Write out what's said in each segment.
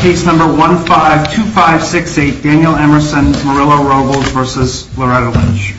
Case number 1-5-2-5-6-8, Daniel Emerson, Murillo-Robles v. Loretta Lynch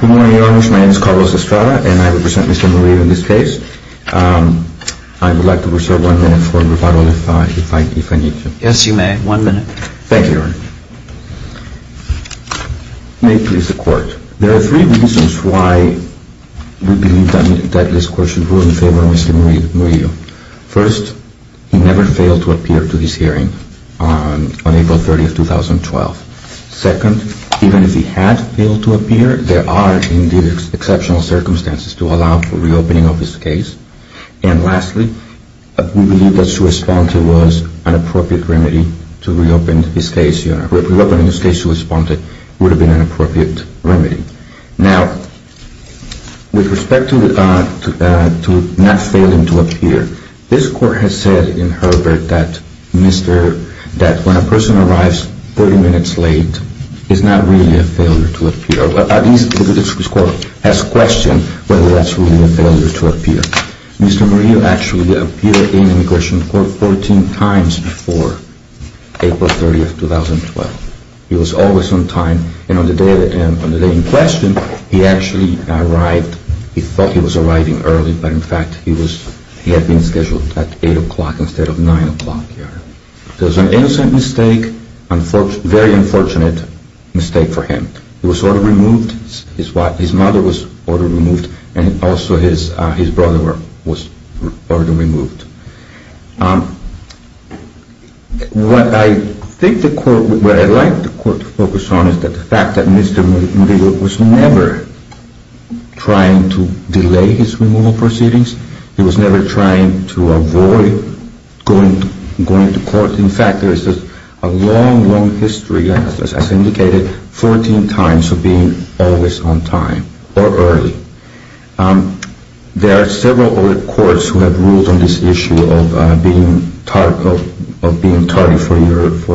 Good morning Your Honors, my name is Carlos Estrada and I represent Mr. Murillo in this case. I would like to ask Mr. Murillo if he would be so kind as to provide a brief Mr. Murillo-Robles v. Loretta Lynch Thank you, Your Honor. There are three reasons why we believe that this Court should rule in favor of Mr. Murillo. First, he never failed to appear to this hearing on April 30, 2012. Second, even if he had failed to appear, there are exceptional circumstances to allow for reopening of this case. And lastly, we believe that his response was an appropriate remedy to reopen this case. Now, with respect to not failing to appear, this Court has said in Herbert that when a person arrives 30 minutes late, it's not really a failure to appear. At least, this Court has questioned whether that's really a failure to appear. Mr. Murillo actually appeared in immigration court 14 times before April 30, 2012. He was always on time, and on the day in question, he actually arrived, he thought he was arriving early, but in fact, he had been scheduled at 8 o'clock instead of 9 o'clock. It was an innocent mistake, a very unfortunate mistake for him. He was ordered removed, his mother was ordered removed, and also his brother was ordered removed. What I think the Court, what I'd like the Court to focus on is the fact that Mr. Murillo was never trying to delay his removal proceedings. He was never trying to delay going to court. In fact, there is a long, long history, as indicated, 14 times of being always on time or early. There are several other courts who have ruled on this issue of being tardy for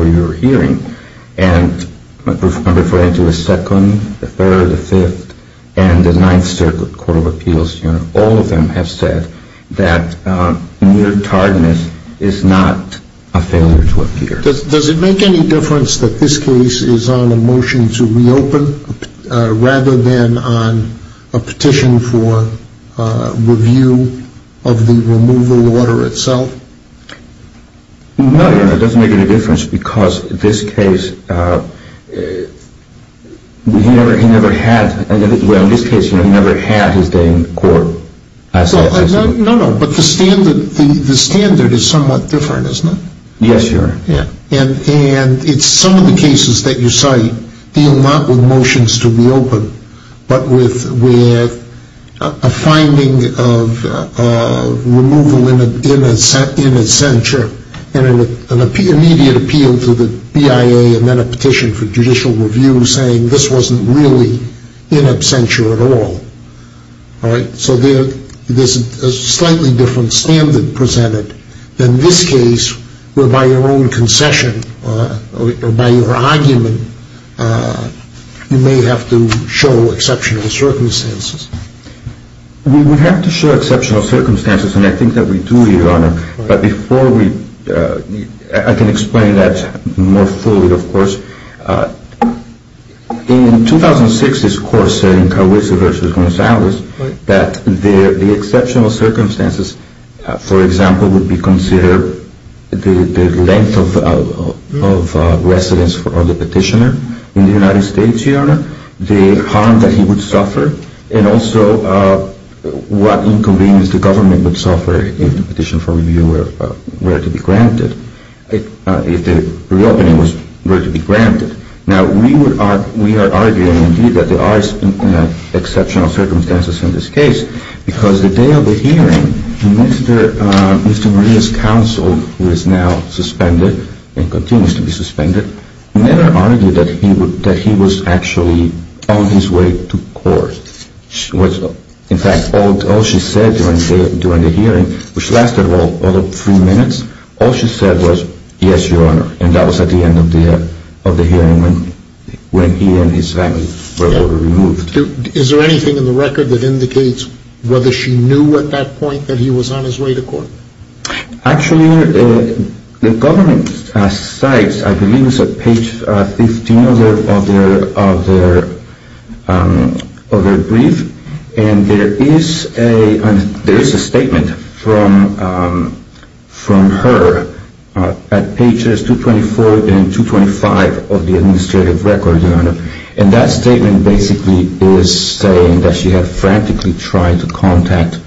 your hearing, and I'm referring to the Second, the Third, the Fifth, and the Ninth Circuit Court of Appeals. All of them have said that mere tardiness is not a failure to appear. Does it make any difference that this case is on a motion to reopen, rather than on a petition for review of the removal order itself? No, Your Honor, it doesn't make any difference, because this case, he never had, well, in this case, he never had his day in court. No, no, but the standard is somewhat different, isn't it? Yes, Your Honor. And it's some of the cases that you cite deal not with motions to reopen, but with a finding of removal in absentia, and an immediate appeal to the BIA, and then a petition for judicial review. So there's a slightly different standard presented in this case, whereby your own concession or by your argument, you may have to show exceptional circumstances. We would have to show exceptional circumstances, and I think that we do, Your Honor, but before we, I can explain that more fully, of course. In 2006, this court said in Carwizza v. Gonzalez that the exceptional circumstances, for example, would be considered the length of residence of the petitioner in the United States, Your Honor, the harm that he would suffer, and also what inconvenience the government would suffer if the petition for review were to be granted, if the reopening were to be granted. Now, we are arguing, indeed, that there are exceptional circumstances in this case, because the day of the hearing, Mr. Maria's counsel, who is now suspended and continues to be suspended, never argued that he was actually on his way to court. In fact, all she said during the hearing, which lasted, well, over three minutes, all she said was, yes, Your Honor, and that was at the end of the hearing when he and his family were removed. Is there anything in the record that indicates whether she knew at that point that he was on his way to court? Actually, the government cites, I believe it's at page 15 of their brief, and there is a statement from her at pages 224 and 225 of the administrative record, Your Honor, and that statement basically is saying that she had frantically tried to contact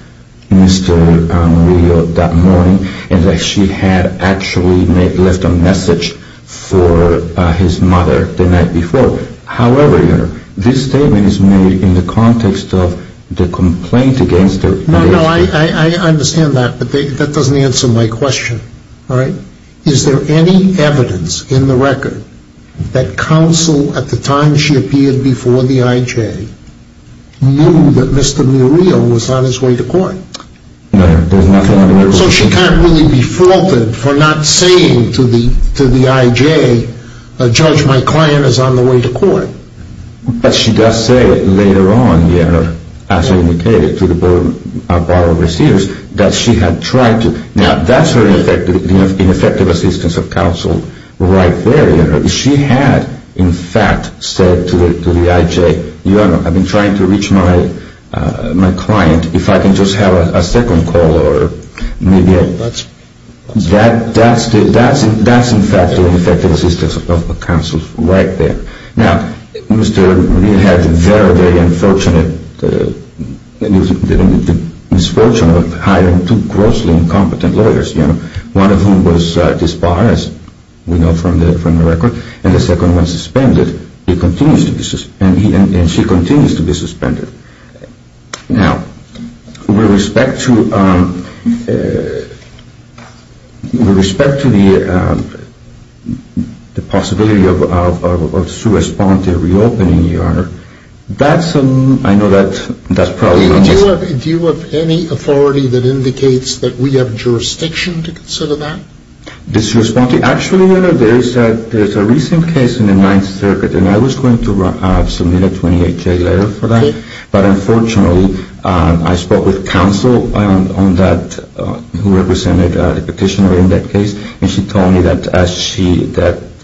Mr. Maria that morning, and that she had actually left a message for his mother the night before. However, Your Honor, this statement is made in the context of the complaint against the I understand that, but that doesn't answer my question, all right? Is there any evidence in the record that counsel, at the time she appeared before the IJ, knew that Mr. Maria was on his way to court? No, there's nothing on the record. So she can't really be faulted for not saying to the IJ, Judge, my client is on the way to court. But she does say later on, Your Honor, as indicated to the board of receivers, that she had tried to. Now, that's her ineffective assistance of counsel right there, Your Honor. She had, in fact, said to the IJ, Your Honor, I've been trying to reach my client, if I can just have a second call or maybe a... That's... Now, Mr. Maria had the misfortune of hiring two grossly incompetent lawyers, Your Honor, one of whom was disbarred, as we know from the record, and the second one suspended, and she continues to be suspended. Now, with respect to the possibility of a sua sponte reopening, Your Honor, that's... I know that's probably... Do you have any authority that indicates that we have jurisdiction to consider that? Actually, Your Honor, there's a recent case in the Ninth Circuit, and I was going to submit a 28-J letter for that, but unfortunately, I spoke with counsel on that, who represented the petitioner in that case, and she told me that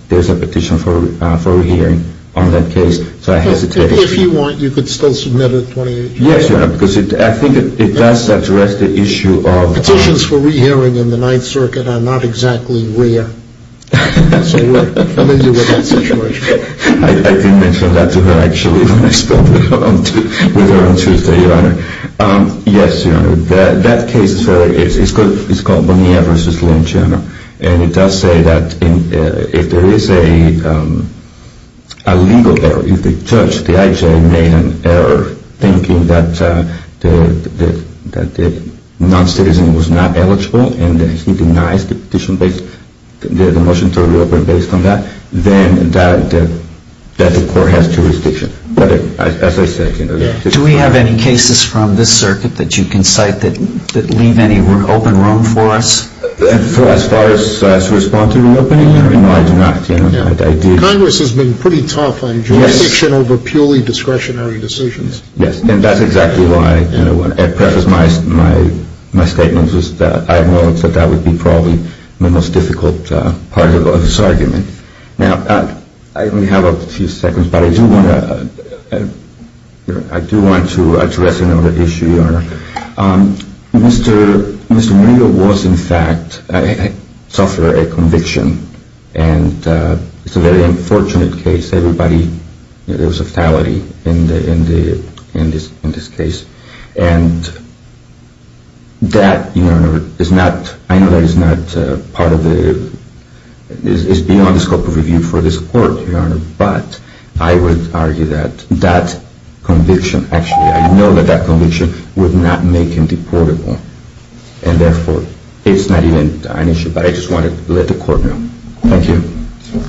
there's a petition for a re-hearing on that case, so I hesitated. If you want, you could still submit a 28-J letter. Yes, Your Honor, because I think it does address the issue of... Petitions for re-hearing in the Ninth Circuit are not exactly rare. So we're familiar with that situation. I didn't mention that to her, actually, when I spoke with her on Tuesday, Your Honor. Yes, Your Honor, that case is called Bonilla v. Lynch, Your Honor, and it does say that if there is a legal error, if the judge, the I.J., made an error thinking that the non-citizen was not eligible, and he denies the motion to reopen based on that, then the court has jurisdiction. But as I said... Do we have any cases from this circuit that you can cite that leave any open room for us? As far as to respond to reopening, Your Honor, no, I do not. Congress has been pretty tough on jurisdiction over purely discretionary decisions. Yes, and that's exactly why, perhaps my statement was that I know that that would be probably the most difficult part of this argument. Now, I only have a few seconds, but I do want to address another issue, Your Honor. Mr. Bonilla was, in fact, suffered a conviction, and it's a very unfortunate case. Everybody, there was a fatality in this case. And that, Your Honor, is not... I know that it's not part of the... It's beyond the scope of review for this court, Your Honor, but I would argue that that conviction, actually, I know that that conviction would not make him deportable. And therefore, it's not even an issue, but I just wanted to let the court know. Thank you.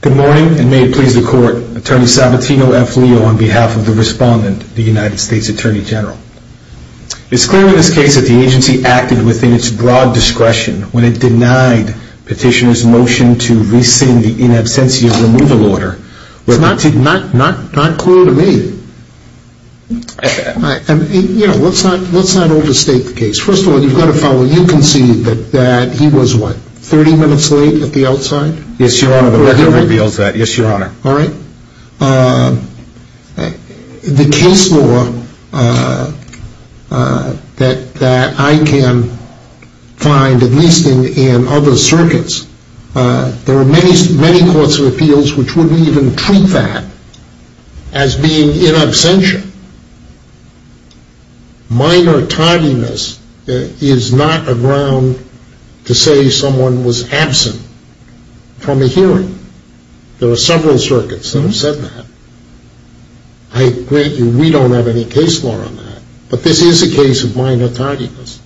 Good morning, and may it please the court. Attorney Sabatino F. Leo on behalf of the respondent, the United States Attorney General. It's clear in this case that the agency acted within its broad discretion when it denied petitioner's motion to rescind the in absentia removal order. It's not clear to me. You know, let's not overstate the case. First of all, you've got to follow. You concede that he was, what, 30 minutes late at the outside? Yes, Your Honor, the record reveals that. Yes, Your Honor. All right. The case law that I can find, at least in other circuits, there are many courts of appeals which wouldn't even treat that as being in absentia. Minor tardiness is not a ground to say someone was absent from a hearing. There are several circuits that have said that. I grant you we don't have any case law on that, but this is a case of minor tardiness.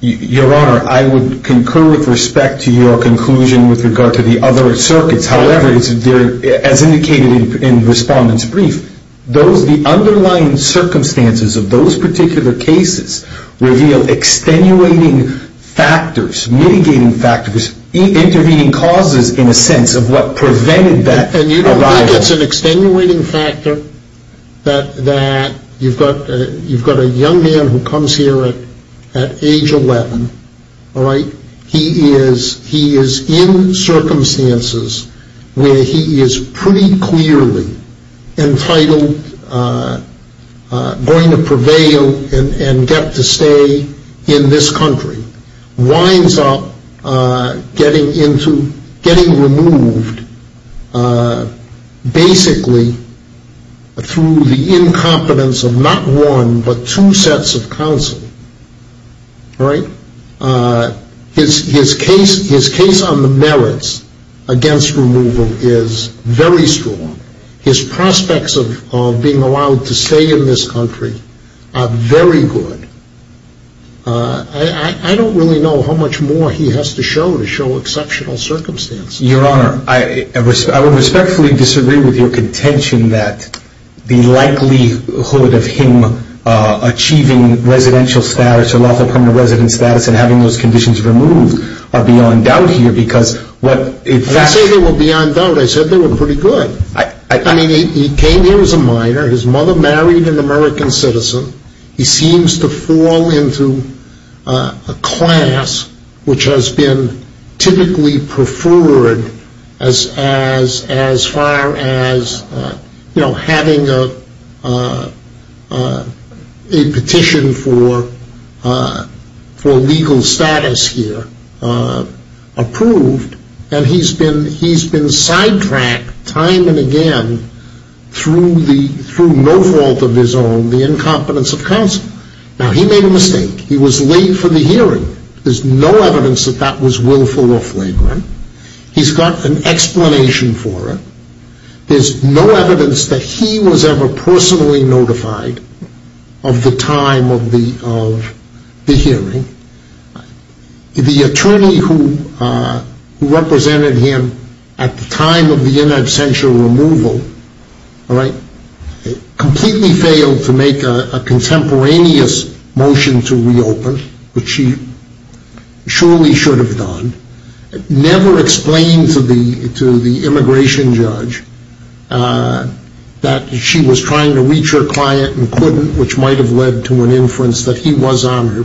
Your Honor, I would concur with respect to your conclusion with regard to the other circuits. However, as indicated in the respondent's brief, the underlying circumstances of those particular cases reveal extenuating factors, mitigating factors, intervening causes, in a sense, of what prevented that arrival. And you don't think it's an extenuating factor that you've got a young man who comes here at age 11, all right? He is in circumstances where he is pretty clearly entitled, going to prevail and get to stay in this country, winds up getting removed basically through the incompetence of not one, but two sets of counsel, all right? His case on the merits against removal is very strong. His prospects of being allowed to stay in this country are very good. I don't really know how much more he has to show to show exceptional circumstances. Your Honor, I would respectfully disagree with your contention that the likelihood of him achieving residential status or lawful permanent resident status and having those conditions removed are beyond doubt here because what, in fact- When you say they were beyond doubt, I said they were pretty good. I mean, he came here as a minor. His mother married an American citizen. He seems to fall into a class which has been typically preferred as far as having a petition for legal status here approved. And he's been sidetracked time and again through no fault of his own, the incompetence of counsel. Now, he made a mistake. He was late for the hearing. There's no evidence that that was willful or flagrant. He's got an explanation for it. There's no evidence that he was ever personally notified of the time of the hearing. The attorney who represented him at the time of the in absentia removal completely failed to make a contemporaneous motion to reopen, which she surely should have done, never explained to the immigration judge that she was trying to reach her client and couldn't, which might have led to an inference that he was on her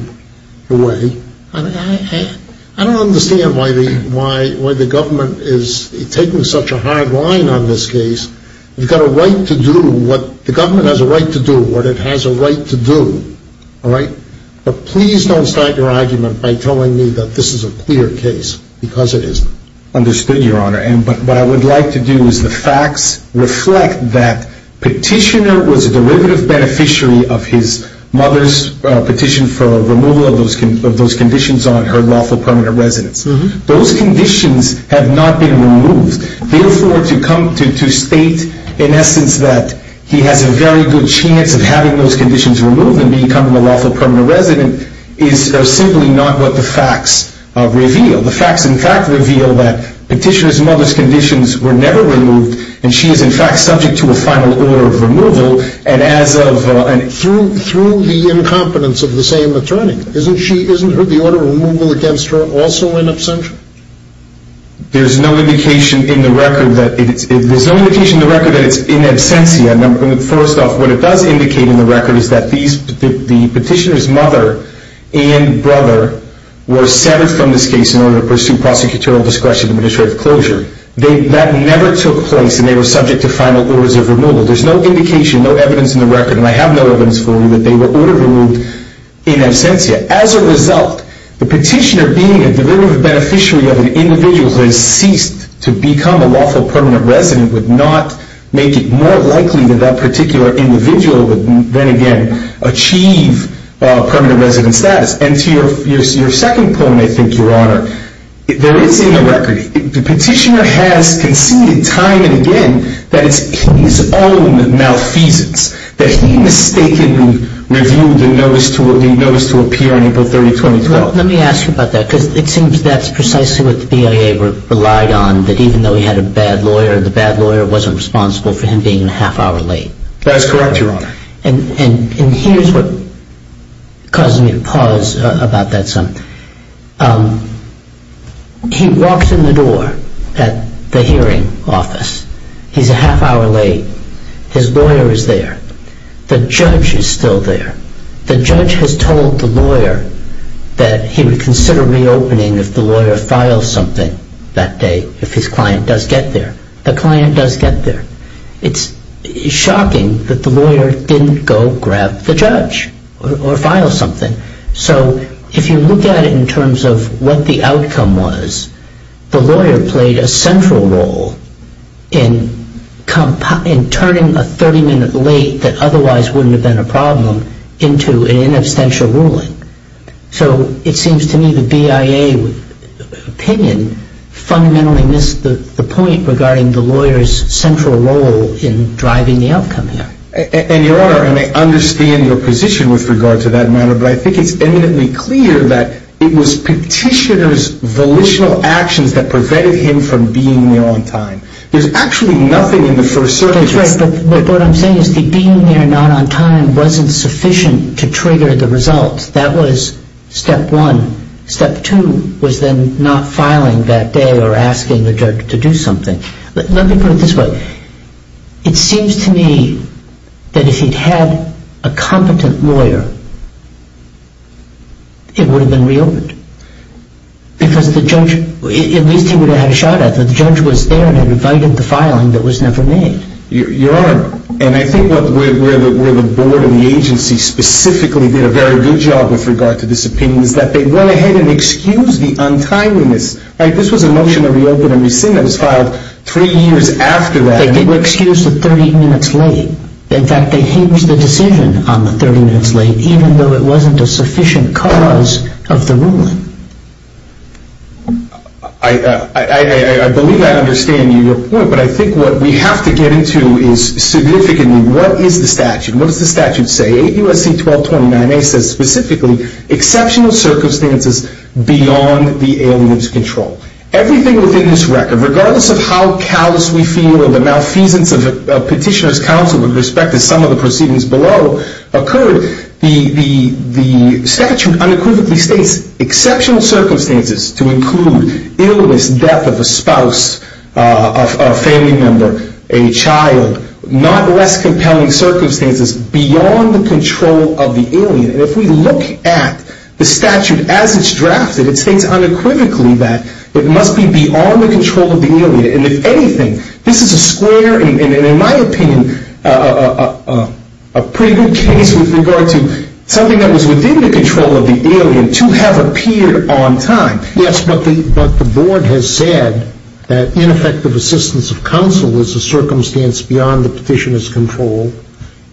way. I don't understand why the government is taking such a hard line on this case. You've got a right to do what the government has a right to do, what it has a right to do, all right? But please don't start your argument by telling me that this is a clear case because it isn't. Understood, Your Honor. And what I would like to do is the facts reflect that Petitioner was a derivative beneficiary of his mother's petition for removal of those conditions on her lawful permanent residence. Those conditions have not been removed. Therefore, to come to state, in essence, that he has a very good chance of having those conditions removed and becoming a lawful permanent resident is simply not what the facts reveal. The facts, in fact, reveal that Petitioner's mother's conditions were never removed, and she is, in fact, subject to a final order of removal. Through the incompetence of the same attorney, isn't the order of removal against her also in absentia? There's no indication in the record that it's in absentia. First off, what it does indicate in the record is that the Petitioner's mother and brother were severed from this case in order to pursue prosecutorial discretion and administrative closure. That never took place, and they were subject to final orders of removal. There's no indication, no evidence in the record, and I have no evidence for you that they were ordered removed in absentia. As a result, the Petitioner being a derivative beneficiary of an individual who has ceased to become a lawful permanent resident would not make it more likely that that particular individual would then again achieve permanent resident status. And to your second point, I think, Your Honor, there is in the record, the Petitioner has conceded time and again that it's his own malfeasance, that he mistakenly reviewed the notice to appear on April 30, 2012. Let me ask you about that, because it seems that's precisely what the BIA relied on, that even though he had a bad lawyer, the bad lawyer wasn't responsible for him being a half hour late. That is correct, Your Honor. And here's what causes me to pause about that some. He walks in the door at the hearing office. He's a half hour late. His lawyer is there. The judge is still there. The judge has told the lawyer that he would consider reopening if the lawyer filed something that day, if his client does get there. The client does get there. It's shocking that the lawyer didn't go grab the judge or file something. So if you look at it in terms of what the outcome was, the lawyer played a central role in turning a 30-minute late that otherwise wouldn't have been a problem into an inabstantial ruling. So it seems to me the BIA opinion fundamentally missed the point regarding the lawyer's central role in driving the outcome here. And, Your Honor, and I understand your position with regard to that matter, but I think it's eminently clear that it was Petitioner's volitional actions that prevented him from being there on time. There's actually nothing in the first circumstance. That's right, but what I'm saying is that being there not on time wasn't sufficient to trigger the result. That was step one. Step two was then not filing that day or asking the judge to do something. Let me put it this way. It seems to me that if he'd had a competent lawyer, it would have been reopened because the judge, at least he would have had a shot at it. But the judge was there and invited the filing that was never made. Your Honor, and I think where the board and the agency specifically did a very good job with regard to this opinion is that they went ahead and excused the untimeliness. This was a motion to reopen and rescind that was filed three years after that. They didn't excuse the 30 minutes late. In fact, they hinged the decision on the 30 minutes late even though it wasn't a sufficient cause of the ruling. I believe I understand your point, but I think what we have to get into is significantly what is the statute. What does the statute say? 8 U.S.C. 1229A says specifically exceptional circumstances beyond the alien's control. Everything within this record, regardless of how callous we feel or the malfeasance of a petitioner's counsel with respect to some of the proceedings below occurred, the statute unequivocally states exceptional circumstances to include illness, death of a spouse, a family member, a child. Not less compelling circumstances beyond the control of the alien. If we look at the statute as it's drafted, it states unequivocally that it must be beyond the control of the alien. And if anything, this is a square, and in my opinion, a pretty good case with regard to something that was within the control of the alien to have appeared on time. Yes, but the board has said that ineffective assistance of counsel is a circumstance beyond the petitioner's control.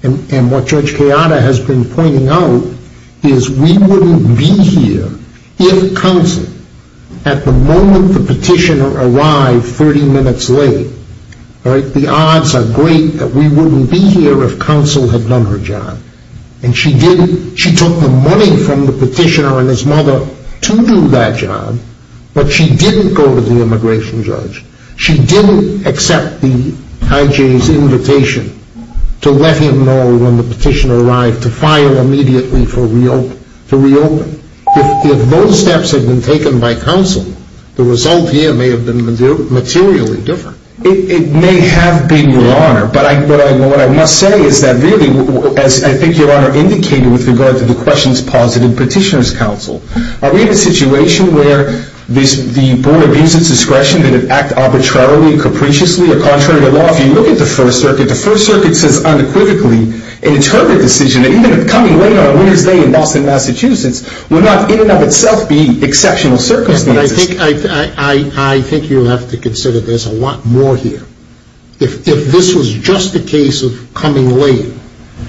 And what Judge Kayada has been pointing out is we wouldn't be here if counsel, at the moment the petitioner arrived 30 minutes late, the odds are great that we wouldn't be here if counsel had done her job. And she took the money from the petitioner and his mother to do that job, but she didn't go to the immigration judge. She didn't accept the IJ's invitation to let him know when the petitioner arrived to file immediately to reopen. If those steps had been taken by counsel, the result here may have been materially different. It may have been, Your Honor, but what I must say is that really, as I think Your Honor indicated with regard to the questions posited in petitioner's counsel, are we in a situation where the board views its discretion to act arbitrarily, capriciously, or contrary to law? If you look at the First Circuit, the First Circuit says unequivocally, an interpretive decision, even if coming late on a Wednesday in Boston, Massachusetts, would not in and of itself be exceptional circumstances. I think you'll have to consider there's a lot more here. If this was just a case of coming late,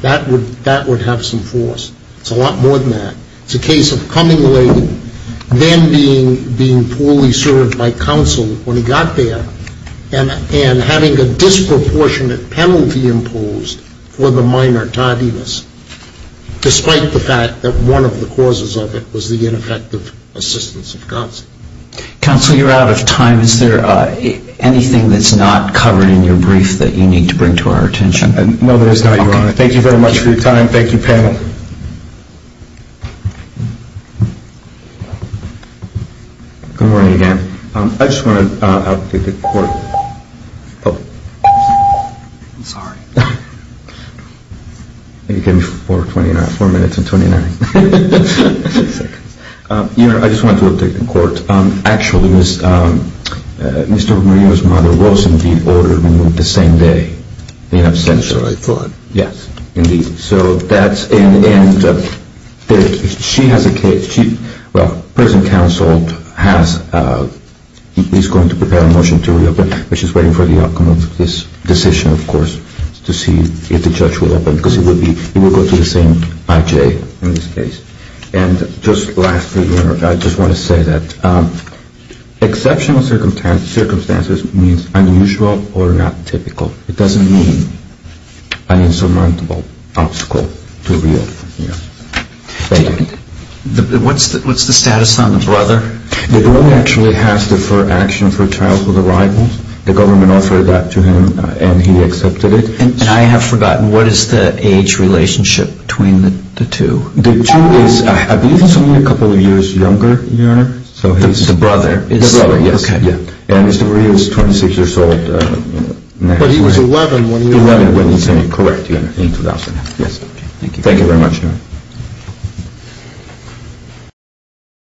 that would have some force. It's a lot more than that. It's a case of coming late, then being poorly served by counsel when he got there, and having a disproportionate penalty imposed for the minor tardiness, despite the fact that one of the causes of it was the ineffective assistance of counsel. Counsel, you're out of time. Is there anything that's not covered in your brief that you need to bring to our attention? No, there is not, Your Honor. Thank you very much for your time. Thank you, panel. Good morning, again. I just want to update the court. I'm sorry. You gave me four minutes and 29 seconds. Your Honor, I just wanted to update the court. Actually, Mr. Romero's mother was indeed ordered removed the same day. That's what I thought. Yes, indeed. And she has a case. Well, prison counsel is going to prepare a motion to reopen, which is waiting for the outcome of this decision, of course, to see if the judge will open, because it will go to the same IJ in this case. And just lastly, Your Honor, I just want to say that exceptional circumstances means unusual or not typical. It doesn't mean an insurmountable obstacle to reopen. Thank you. What's the status on the brother? The brother actually has deferred action for childhood arrivals. The government offered that to him, and he accepted it. And I have forgotten, what is the age relationship between the two? The two is, I believe it's only a couple of years younger, Your Honor. The brother? The brother, yes. Okay. And Mr. Maria is 26 years old. But he was 11 when he was sent in. 11 when he was sent in, correct, Your Honor, in 2008. Yes. Thank you very much, Your Honor.